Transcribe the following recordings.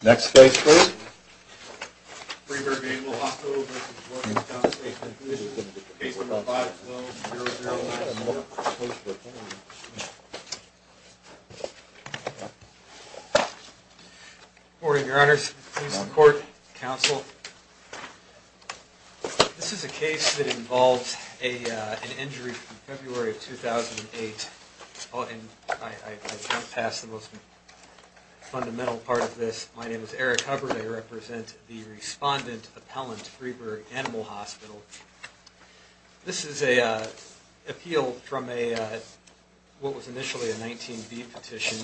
case number 512-009, and we're opposed to attorney's decision. Good morning, Your Honors. Police, the Court, Counsel. This is a case that involves an injury from February of 2008, and I can't pass the most My name is Eric Hubbard. I represent the Respondent Appellant Freeburg Animal Hospital. This is an appeal from what was initially a 19B petition,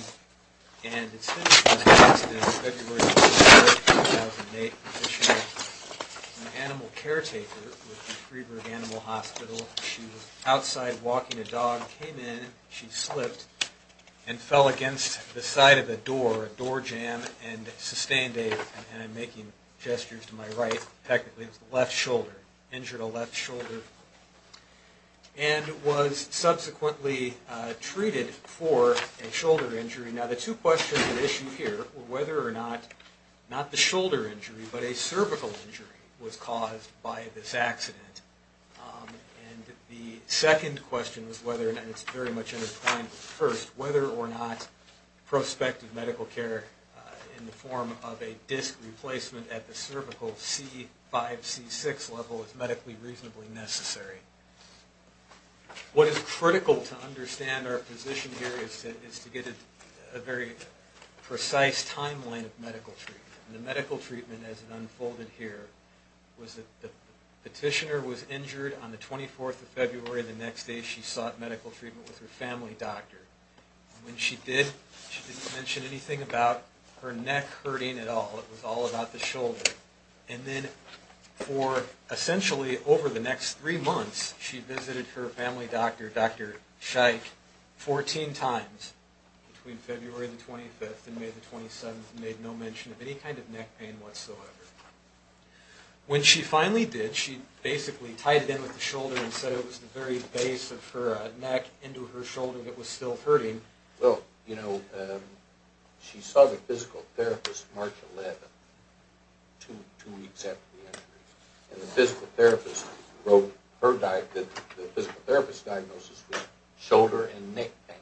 and it's been passed in February of 2008, petitioner, an animal caretaker with the Freeburg Animal Hospital. She was outside walking a dog, came in, she slipped, and fell against the side of a door, a door jam, and sustained a, and I'm making gestures to my right, technically, it was the left shoulder, injured a left shoulder, and was subsequently treated for a shoulder injury. Now, the two questions at issue here were whether or not, not the shoulder injury, but a cervical injury was caused by this accident. And the second question was whether, and it's very much intertwined with the first, whether or not prospective medical care in the form of a disc replacement at the cervical C5, C6 level is medically reasonably necessary. What is critical to understand our position here is to get a very precise timeline of medical treatment. And the medical treatment as it unfolded here was that the petitioner was injured on the 24th of February. The next day she sought medical treatment with her family doctor. When she did, she didn't mention anything about her neck hurting at all. It was all about the shoulder. And then for essentially over the next three months, she visited her family doctor, Dr. Scheich, 14 times between February the 25th and May the 27th, and made no mention of any kind of neck pain whatsoever. When she finally did, she basically tied it in with the shoulder and said it was the very base of her neck into her shoulder that was still hurting. Well, you know, she saw the physical therapist March 11, two weeks after the injury. And the physical therapist wrote her diagnosis, the physical therapist's diagnosis was shoulder and neck pain.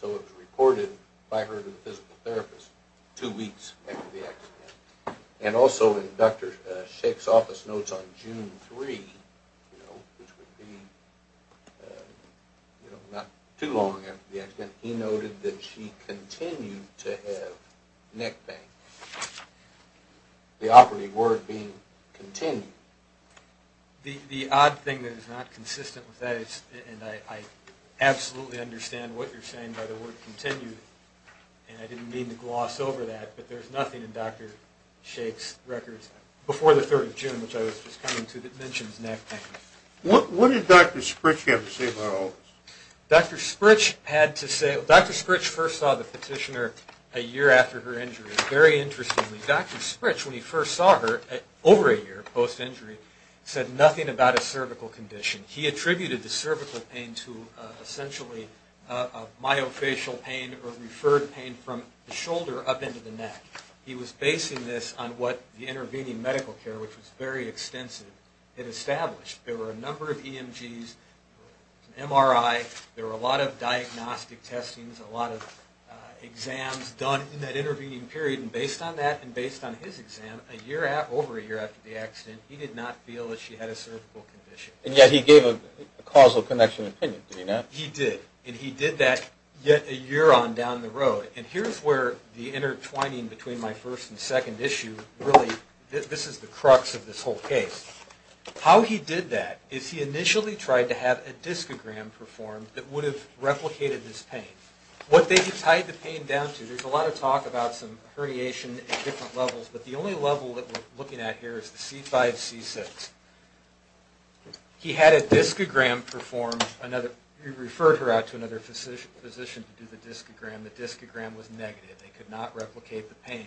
So it was reported by her to the physical therapist two weeks after the injury. And also in Dr. Scheich's office notes on June 3, you know, which would be, you know, not too long after the accident, he noted that she continued to have neck pain. The operative word being continued. The odd thing that is not consistent with that is, and I absolutely understand what you're saying by the word continued, and I didn't mean to gloss over that, but there's records before the 3rd of June, which I was just coming to, that mentions neck pain. What did Dr. Sprich have to say about all this? Dr. Sprich had to say, Dr. Sprich first saw the petitioner a year after her injury. Very interestingly, Dr. Sprich, when he first saw her, over a year post-injury, said nothing about a cervical condition. He attributed the cervical pain to essentially myofascial pain or referred pain from the shoulder up into the neck. He was basing this on what the intervening medical care, which was very extensive, had established. There were a number of EMGs, MRI, there were a lot of diagnostic testings, a lot of exams done in that intervening period, and based on that and based on his exam, over a year after the accident, he did not feel that she had a cervical condition. And yet he gave a causal connection opinion, did he not? He did, and he did that yet a year on down the road. And here's where the intertwining between my first and second issue really, this is the crux of this whole case. How he did that is he initially tried to have a discogram performed that would have replicated this pain. What they tied the pain down to, there's a lot of talk about some herniation at different levels, but the only level that we're looking at here is the C5, C6. He had a discogram performed, he referred her out to another physician to do the discogram. The discogram was negative. They could not replicate the pain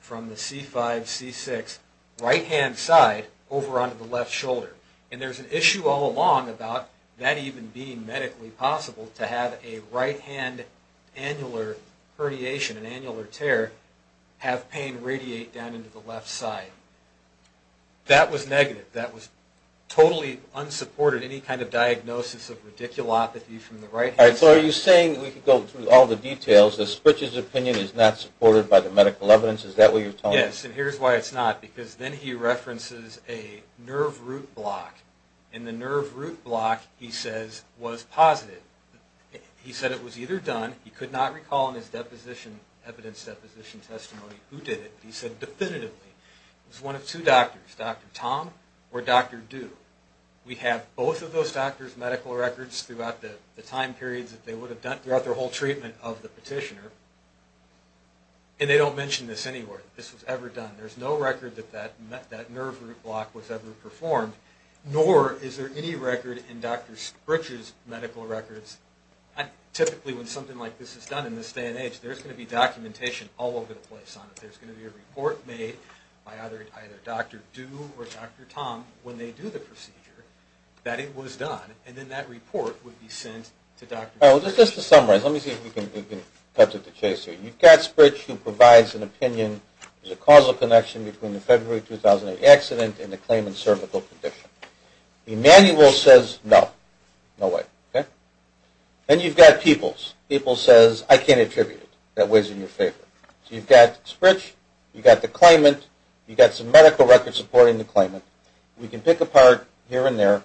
from the C5, C6 right-hand side over onto the left shoulder. And there's an issue all along about that even being medically possible to have a right-hand annular herniation, an annular tear, have pain radiate down into the left side. That was negative. That was totally unsupported, any kind of diagnosis of radiculopathy from the right-hand side. All right, so are you saying, we could go through all the details, that Spritch's opinion is not supported by the medical evidence? Is that what you're telling us? Yes, and here's why it's not, because then he references a nerve root block. And the nerve root block, he says, was positive. He said it was either done, he could not recall in his deposition, evidence deposition testimony who did it, but he said definitively it was one of two doctors, Dr. Tom or Dr. Du. We have both of those doctors' medical records throughout the time periods that they would have done, throughout their whole treatment of the petitioner, and they don't mention this anywhere, that this was ever done. There's no record that that nerve root block was ever performed, nor is there any record in Dr. Du or Dr. Tom, when they do the procedure, that it was done, and then that report would be sent to Dr. Du. All right, well, just to summarize, let me see if we can cut to the chase here. You've got Spritch who provides an opinion, there's a causal connection between the February 2008 accident and the claimant's cervical condition. Emanuel says no, no way, okay? Then you've got Peoples. Peoples says I can't attribute it, that weighs in your favor. So you've got Spritch, you've got the claimant, you've got some medical records supporting the claimant. We can pick apart here and there.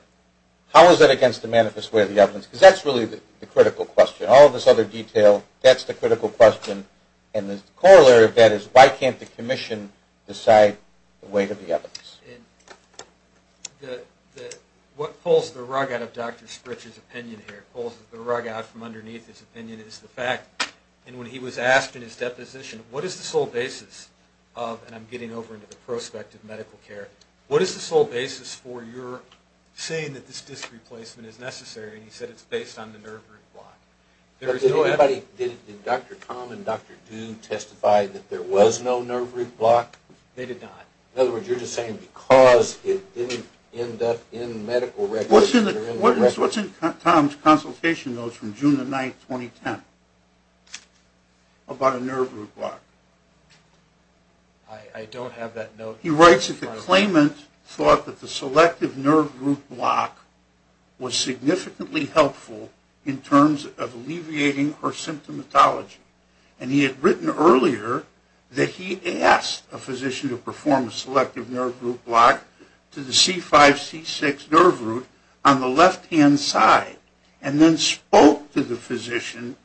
How is that against the manifest way of the evidence? Because that's really the critical question. All of this other detail, that's the critical question, and the corollary of that is why can't the commission decide the weight of the evidence? And what pulls the rug out of Dr. Spritch's opinion here, pulls the rug out from underneath his opinion, is the fact, and when he was asked in his deposition, what is the sole basis of, and I'm getting over into the prospect of medical care, what is the sole basis for your saying that this disc replacement is necessary, and he said it's based on the nerve root block. Did Dr. Tom and Dr. Du testify that there was no nerve root block? They did not. In other words, you're just saying because it didn't end up in medical records. What's in Tom's consultation notes from June the 9th, 2010, about a nerve root block? I don't have that note. He writes that the claimant thought that the selective nerve root block was significantly helpful in terms of alleviating her symptomatology, and he had written earlier that he asked a selective nerve root block to the C5-C6 nerve root on the left-hand side, and then spoke to the physician,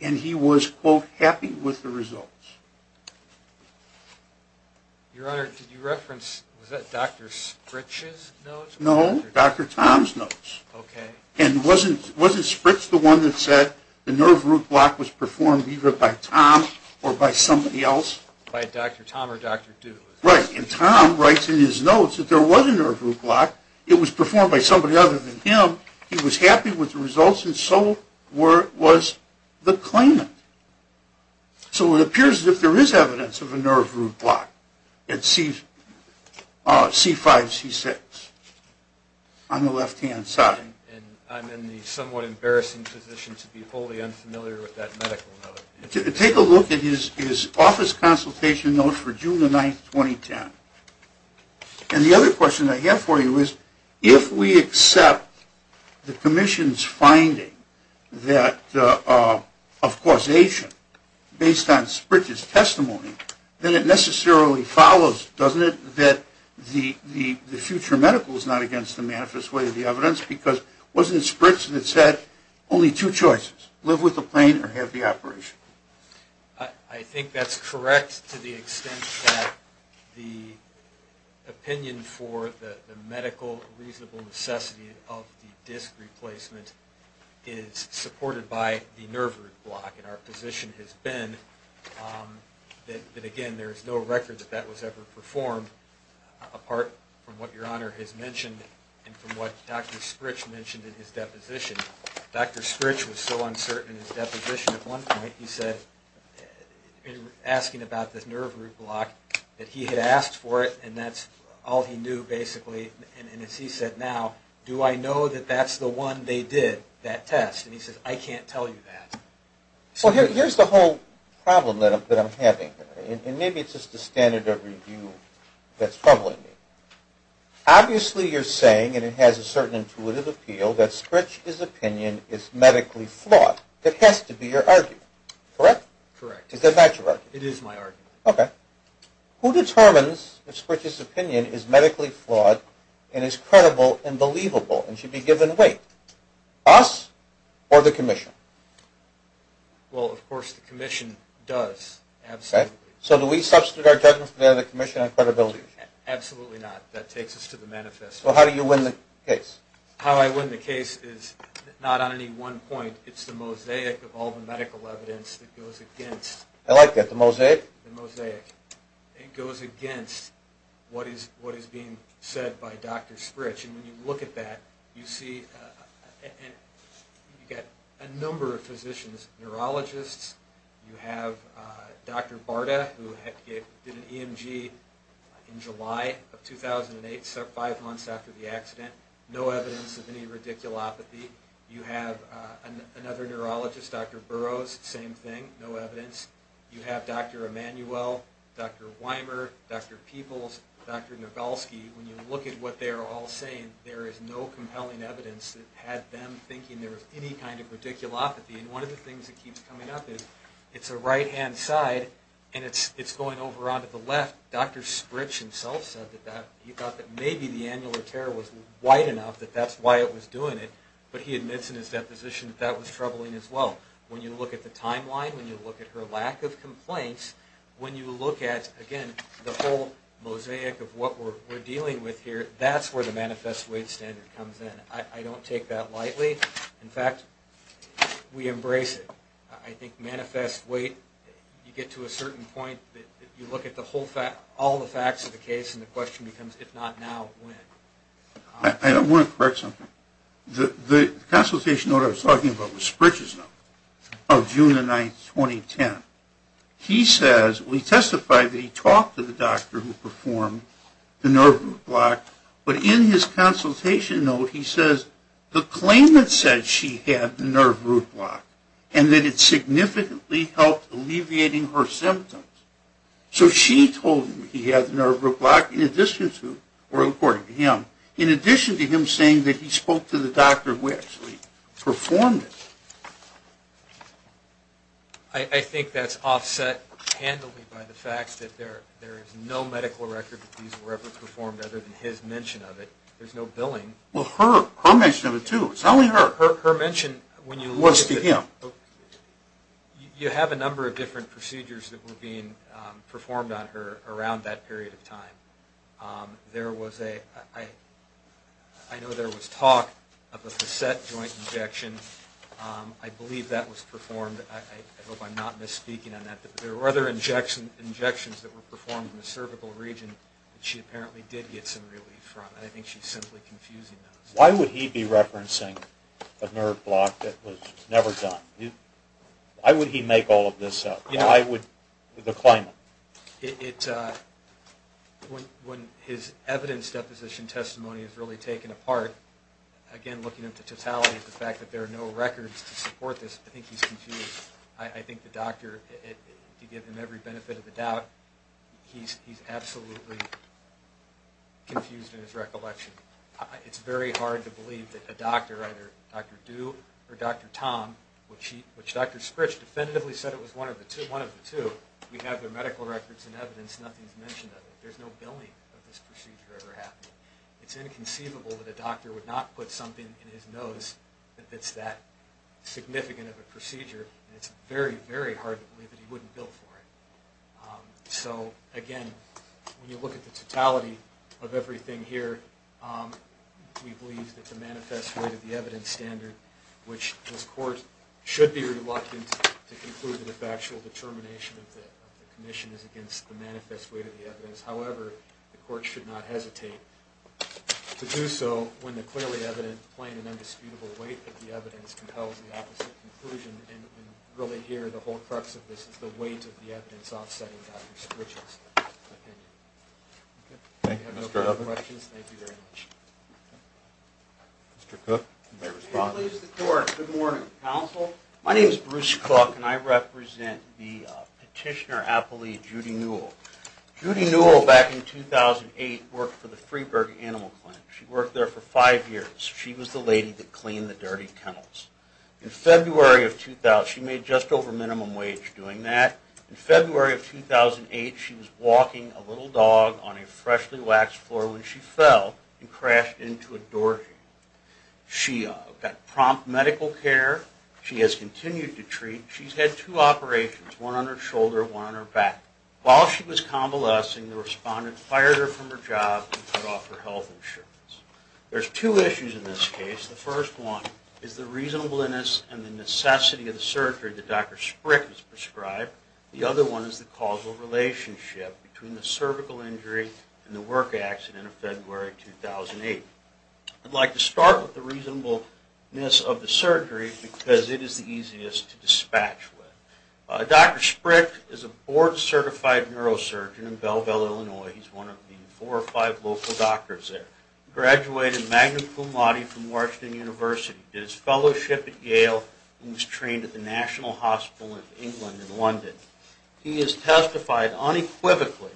and he was, quote, happy with the results. Your Honor, did you reference, was that Dr. Spritch's notes? No, Dr. Tom's notes. Okay. And wasn't Spritch the one that said the nerve root block was performed either by Tom or by somebody else? By Dr. Tom or Dr. Du. Right. And Tom writes in his notes that there was a nerve root block. It was performed by somebody other than him. He was happy with the results, and so was the claimant. So it appears that there is evidence of a nerve root block at C5-C6 on the left-hand side. And I'm in the somewhat embarrassing position to be wholly unfamiliar with that medical note. Take a look at his office consultation notes for June the 9th, 2010. And the other question I have for you is, if we accept the commission's finding of causation based on Spritch's testimony, then it necessarily follows, doesn't it, that the future medical is not against the manifest way of the evidence because wasn't Spritch the one that said only two choices, live with the pain or have the operation? I think that's correct to the extent that the opinion for the medical reasonable necessity of the disc replacement is supported by the nerve root block. And our position has been that, again, there is no record that that was ever performed apart from what Your Honor has mentioned and from what Dr. Spritch mentioned in his deposition. Dr. Spritch was so uncertain in his deposition at one point, he said, asking about this nerve root block, that he had asked for it and that's all he knew basically. And as he said now, do I know that that's the one they did, that test? And he said, I can't tell you that. Well, here's the whole problem that I'm having. And maybe it's just the standard of review that's troubling me. Obviously you're saying, and it has a certain intuitive appeal, that Spritch's opinion is medically flawed. That has to be your argument, correct? Correct. Is that not your argument? It is my argument. Okay. Who determines if Spritch's opinion is medically flawed and is credible and believable and should be given weight? Us or the commission? Well, of course the commission does, absolutely. So do we substitute our judgment for the commission on credibility? Absolutely not. That takes us to the manifesto. So how do you win the case? How I win the case is not on any one point. It's the mosaic of all the medical evidence that goes against. I like that. The mosaic? The mosaic. It goes against what is being said by Dr. Spritch. And when you look at that, you see you've got a number of physicians, neurologists. You have Dr. Barta, who did an EMG in July of 2008, five months after the accident. No evidence of any radiculopathy. You have another neurologist, Dr. Burrows, same thing, no evidence. You have Dr. Emanuel, Dr. Weimer, Dr. Peebles, Dr. Nagelski. When you look at what they are all saying, there is no compelling evidence that had them thinking there was any kind of radiculopathy. And one of the things that keeps coming up is it's a right-hand side and it's going over onto the left. Dr. Spritch himself said that he thought that maybe the annular tear was wide enough that that's why it was doing it. But he admits in his deposition that that was troubling as well. When you look at the timeline, when you look at her lack of complaints, when you look at, again, the whole mosaic of what we're dealing with here, that's where the manifest weight standard comes in. I don't take that lightly. In fact, we embrace it. I think manifest weight, you get to a certain point that you look at all the facts of the case and the question becomes, if not now, when? I want to correct something. The consultation note I was talking about was Spritch's note of June 9, 2010. He says, we testified that he talked to the doctor who performed the nerve block, but in his consultation note he says the claimant said she had nerve root block and that it significantly helped alleviating her symptoms. So she told him he had nerve root block in addition to, or according to him, in addition to him saying that he spoke to the doctor who actually performed it. I think that's offset handily by the fact that there is no medical record that these were ever his mention of it. There's no billing. Well, her mention of it, too. It's not only her. Her mention when you look at it. It was to him. You have a number of different procedures that were being performed on her around that period of time. There was a, I know there was talk of a facet joint injection. I believe that was performed. I hope I'm not misspeaking on that. There were other injections that were performed in the cervical region that she apparently did get some relief from, and I think she's simply confusing those. Why would he be referencing a nerve block that was never done? Why would he make all of this up? Why would the claimant? When his evidence deposition testimony is really taken apart, again, looking at the totality of the fact that there are no records to support this, I think he's confused. I think the doctor, to give him every benefit of the doubt, he's absolutely confused in his recollection. It's very hard to believe that a doctor, either Dr. Du or Dr. Tom, which Dr. Sprich definitively said it was one of the two, we have their medical records and evidence. Nothing's mentioned of it. There's no billing of this procedure ever happening. It's inconceivable that a doctor would not put something in his nose that's that significant of a procedure and it's very, very hard to believe that he wouldn't bill for it. So, again, when you look at the totality of everything here, we believe that the manifest weight of the evidence standard, which this court should be reluctant to conclude that the factual determination of the commission is against the manifest weight of the evidence. However, the court should not hesitate to do so when the clearly evident, plain and undisputable weight of the whole crux of this is the weight of the evidence offsetting Dr. Sprich's opinion. If you have no further questions, thank you very much. Mr. Cook. Good morning, counsel. My name is Bruce Cook and I represent the petitioner appellee Judy Newell. Judy Newell, back in 2008, worked for the Freeburg Animal Clinic. She worked there for five years. She was the lady that cleaned the dirty kennels. In February of 2000, she made just over minimum wage doing that. In February of 2008, she was walking a little dog on a freshly waxed floor when she fell and crashed into a door. She got prompt medical care. She has continued to treat. She's had two operations, one on her shoulder, one on her back. While she was convalescing, the respondent fired her from her job and cut off her health insurance. There's two issues in this case. The first one is the reasonableness and the necessity of the surgery that Dr. Sprich has prescribed. The other one is the causal relationship between the cervical injury and the work accident of February 2008. I'd like to start with the reasonableness of the surgery because it is the easiest to dispatch with. Dr. Sprich is a board-certified neurosurgeon in Belleville, Illinois. He's one of the four or five local doctors there. He graduated magna cum laude from Washington University, did his fellowship at Yale, and was trained at the National Hospital of England in London. He has testified unequivocally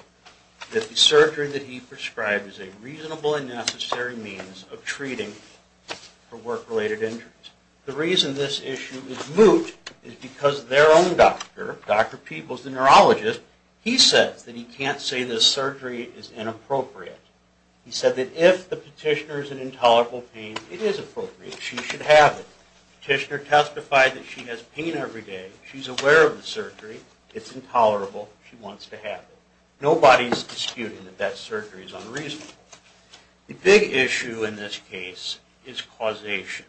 that the surgery that he prescribed is a reasonable and necessary means of treating for work-related injuries. The reason this issue is moot is because their own doctor, Dr. Peebles, the neurologist, he says that he can't say this surgery is inappropriate. He said that if the petitioner is in intolerable pain, it is appropriate. She should have it. The petitioner testified that she has pain every day. She's aware of the surgery. It's intolerable. She wants to have it. Nobody's disputing that that surgery is unreasonable. The big issue in this case is causation.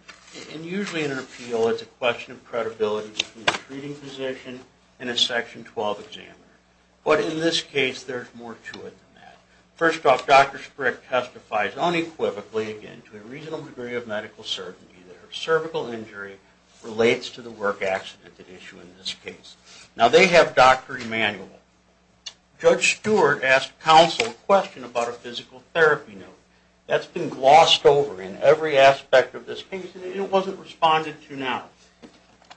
And usually in an appeal, it's a question of credibility between a treating physician and a Section 12 examiner. But in this case, there's more to it than that. First off, Dr. Sprick testifies unequivocally, again, to a reasonable degree of medical certainty that her cervical injury relates to the work accident at issue in this case. Now, they have Dr. Emanuel. Judge Stewart asked counsel a question about a physical therapy note. That's been glossed over in every aspect of this case, and it wasn't responded to now.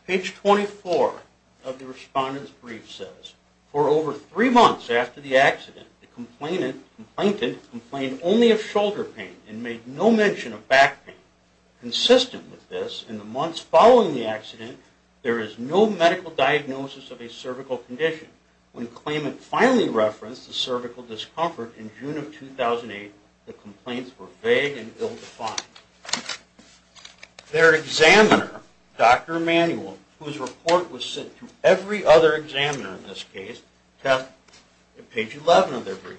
Page 24 of the respondent's brief says, For over three months after the accident, the complainant complained only of shoulder pain and made no mention of back pain. Consistent with this, in the months following the accident, there is no medical diagnosis of a cervical condition. When claimant finally referenced the cervical discomfort in June of 2008, the complaints were vague and ill-defined. Their examiner, Dr. Emanuel, whose report was sent to every other examiner in this case, testifies in page 11 of their brief.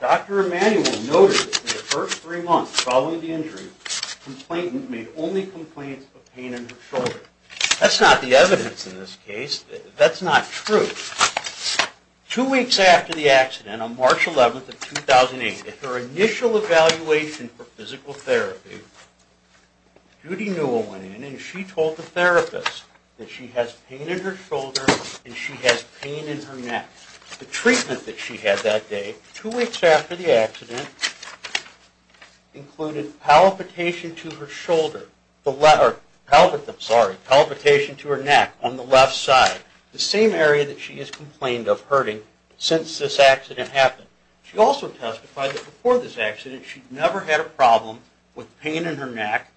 Dr. Emanuel noted that in the first three months following the injury, the complainant made only complaints of pain in her shoulder. That's not the evidence in this case. That's not true. Two weeks after the accident, on March 11th of 2008, at her initial evaluation for physical therapy, Judy Newell went in and she told the therapist that she has pain in her shoulder and she has pain in her neck. The treatment that she had that day, two weeks after the accident, included palpitation to her shoulder, sorry, palpitation to her neck on the left side, the same area that she has complained of hurting since this accident happened. She also testified that before this accident she'd never had a problem with pain in her neck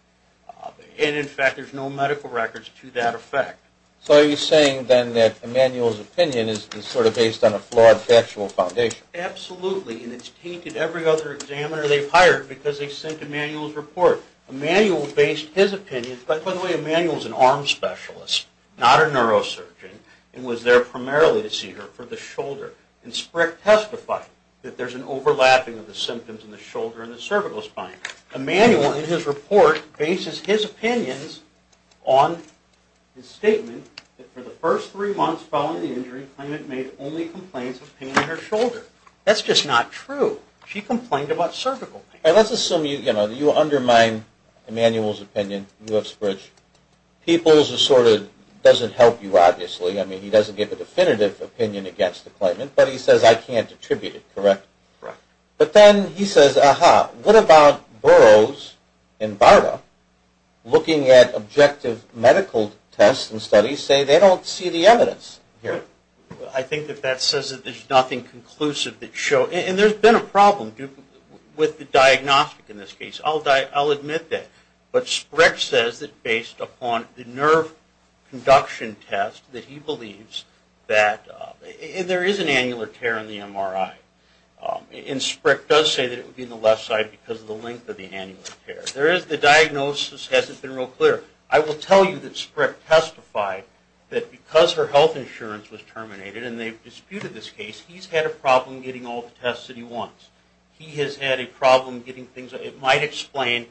and, in fact, there's no medical records to that effect. So are you saying then that Emanuel's opinion is sort of based on a flawed factual foundation? Absolutely, and it's tainted every other examiner they've hired because they sent Emanuel's report. Emanuel based his opinion, by the way, Emanuel's an arm specialist, not a neurosurgeon, and was there primarily to see her for the shoulder. And Sprick testified that there's an overlapping of the symptoms in the shoulder and the cervical spine. Emanuel, in his report, bases his opinions on his statement that for the first three months following the injury, Clement made only complaints of pain in her shoulder. That's just not true. She complained about cervical pain. Let's assume you undermine Emanuel's opinion, you have Sprick. Peoples sort of doesn't help you, obviously. I mean, he doesn't give a definitive opinion against the claimant, but he says, I can't attribute it, correct? Correct. But then he says, ah-ha, what about Burroughs and Barta looking at objective medical tests and studies say they don't see the evidence here? I think that that says that there's nothing conclusive that shows, and there's been a problem with the diagnostic in this case. I'll admit that. But Sprick says that based upon the nerve conduction test that he believes that there is an annular tear in the MRI. And Sprick does say that it would be in the left side because of the length of the annular tear. The diagnosis hasn't been real clear. I will tell you that Sprick testified that because her health insurance was terminated, and they've disputed this case, he's had a problem getting all the tests that he wants. He has had a problem getting things. It might explain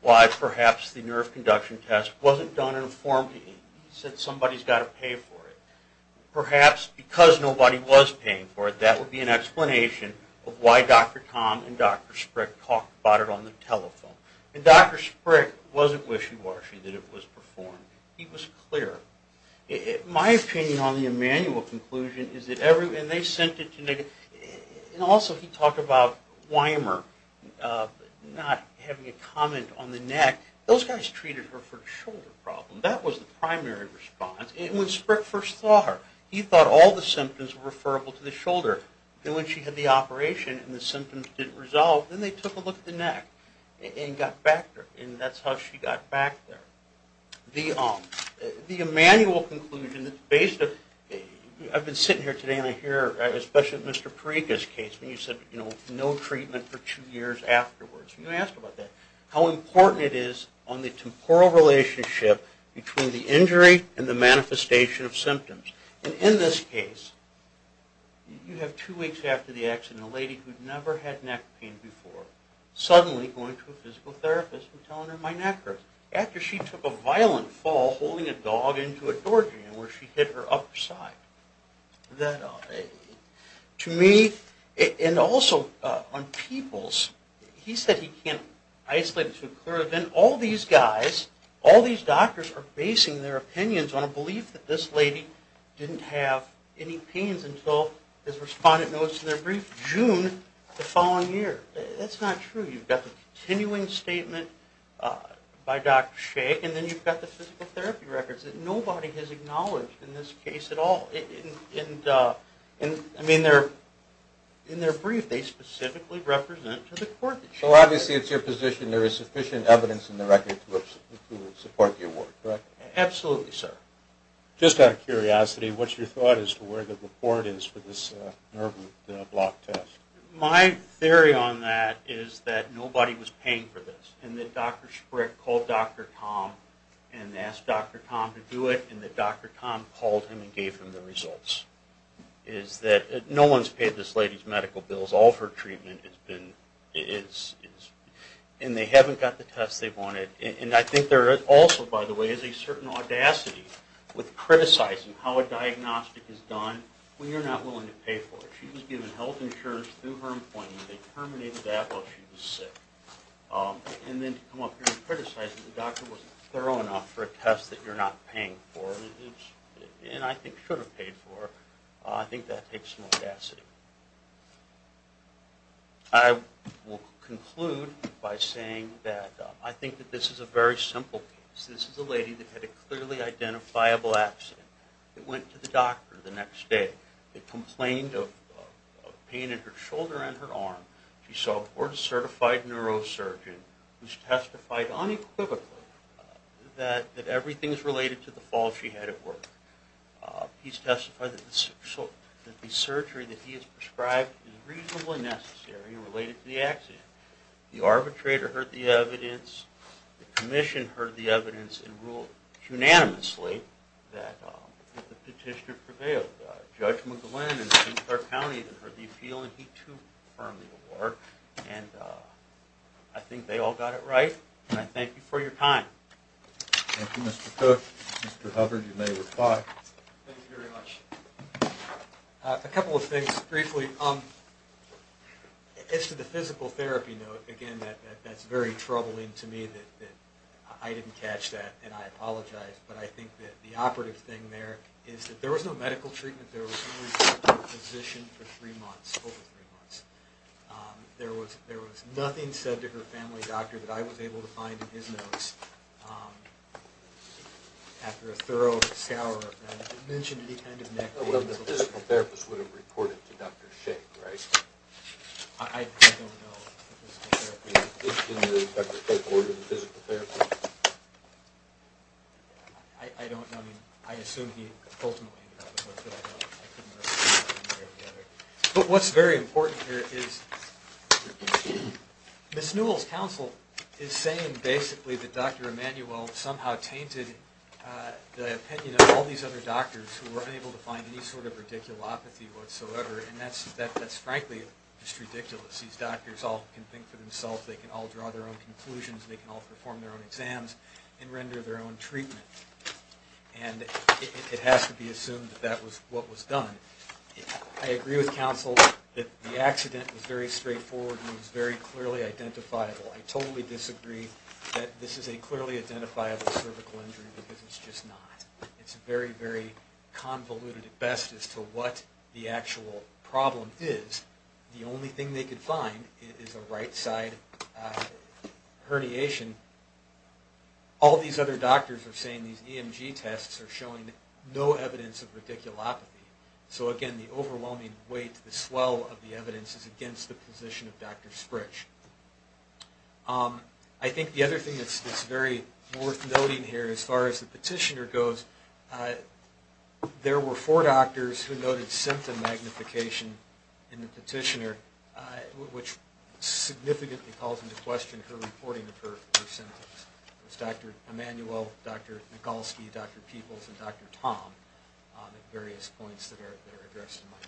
why perhaps the nerve conduction test wasn't done in a form that he said somebody's got to pay for it. Perhaps because nobody was paying for it, that would be an explanation of why Dr. Tom and Dr. Sprick talked about it on the telephone. And Dr. Sprick wasn't wishy-washy that it was performed. He was clear. My opinion on the Emanuel conclusion is that everyone, and they sent it to, and also he talked about Weimer not having a comment on the neck. Those guys treated her for a shoulder problem. That was the primary response. And when Sprick first saw her, he thought all the symptoms were referable to the shoulder. Then when she had the operation and the symptoms didn't resolve, then they took a look at the neck and got back to her. And that's how she got back there. The Emanuel conclusion that's based on, I've been sitting here today and I hear, especially in Mr. Parika's case, when you said, you know, no treatment for two years afterwards. You asked about that. How important it is on the temporal relationship between the injury and the manifestation of symptoms. And in this case, you have two weeks after the accident, a lady who'd never had neck pain before, suddenly going to a physical therapist and telling her, my neck hurts, after she took a violent fall, holding a dog into a doorjamb where she hit her upper side. That lady. To me, and also on people's, he said he can't isolate it too clearly. Then all these guys, all these doctors are basing their opinions on a belief that this lady didn't have any pains until, his respondent notes in their brief, June the following year. That's not true. You've got the continuing statement by Dr. Shay and then you've got the physical therapy records that nobody has acknowledged in this case at all. I mean, in their brief, they specifically represent to the court. So obviously it's your position there is sufficient evidence in the record to support the award, correct? Absolutely, sir. Just out of curiosity, what's your thought as to where the report is for this nerve block test? My theory on that is that nobody was paying for this and that Dr. Sprick called Dr. Tom and asked Dr. Tom to do it and that Dr. Tom called him and gave him the results. No one's paid this lady's medical bills. All of her treatment has been, and they haven't got the test they wanted. I think there also, by the way, is a certain audacity with criticizing how a diagnostic is done when you're not willing to pay for it. She was given health insurance through her employment. They terminated that while she was sick. And then to come up here and criticize that the doctor wasn't thorough enough for a test that you're not paying for, and I think should have paid for, I think that takes some audacity. I will conclude by saying that I think that this is a very simple case. This is a lady that had a clearly identifiable accident. It went to the doctor the next day. They complained of pain in her shoulder and her arm. She saw a board-certified neurosurgeon who's testified unequivocally that everything is related to the fall she had at work. He's testified that the surgery that he has prescribed is reasonably necessary and related to the accident. The arbitrator heard the evidence. The commission heard the evidence and ruled unanimously that the petitioner prevailed. Judge McGlynn in St. Clair County heard the appeal, and he too confirmed the award. I think they all got it right, and I thank you for your time. Thank you, Mr. Cook. Mr. Hubbard, you may reply. Thank you very much. A couple of things briefly. As to the physical therapy note, again, that's very troubling to me that I didn't catch that, and I apologize, but I think that the operative thing there is that there was no medical treatment. There was only a physician for three months, over three months. There was nothing said to her family doctor that I was able to find in his notes after a thorough, sour event. It mentioned any kind of neck pain. The physical therapist would have reported to Dr. Shea, right? I don't know. It's in the doctor's code for the physical therapist. I don't know. I assume he ultimately got the note, but I couldn't remember. But what's very important here is Ms. Newell's counsel is saying basically that Dr. Emanuel somehow tainted the opinion of all these other doctors who were unable to find any sort of radiculopathy whatsoever, and that's frankly just ridiculous. These doctors all can think for themselves. They can all draw their own conclusions. They can all perform their own exams and render their own treatment, and it has to be assumed that that was what was done. I agree with counsel that the accident was very straightforward and was very clearly identifiable. I totally disagree that this is a clearly identifiable cervical injury because it's just not. It's very, very convoluted at best as to what the actual problem is. The only thing they could find is a right-side herniation. All these other doctors are saying these EMG tests are showing no evidence of radiculopathy. So, again, the overwhelming weight, the swell of the evidence is against the position of Dr. Sprich. I think the other thing that's very worth noting here as far as the petitioner goes, there were four doctors who noted symptom magnification in the petitioner, which significantly calls into question her reporting of her symptoms. It was Dr. Emanuel, Dr. Mikulski, Dr. Peebles, and Dr. Tom at various points that are addressed in my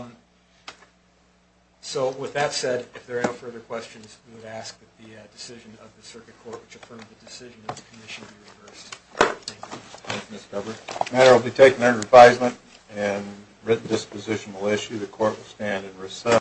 brief. So, with that said, if there are no further questions, we would ask that the decision of the Circuit Court, which affirmed the decision of the Commission, be reversed. Thank you. Thank you, Mr. Cover. The matter will be taken under advisement and written disposition will issue. The Court will stand in recess.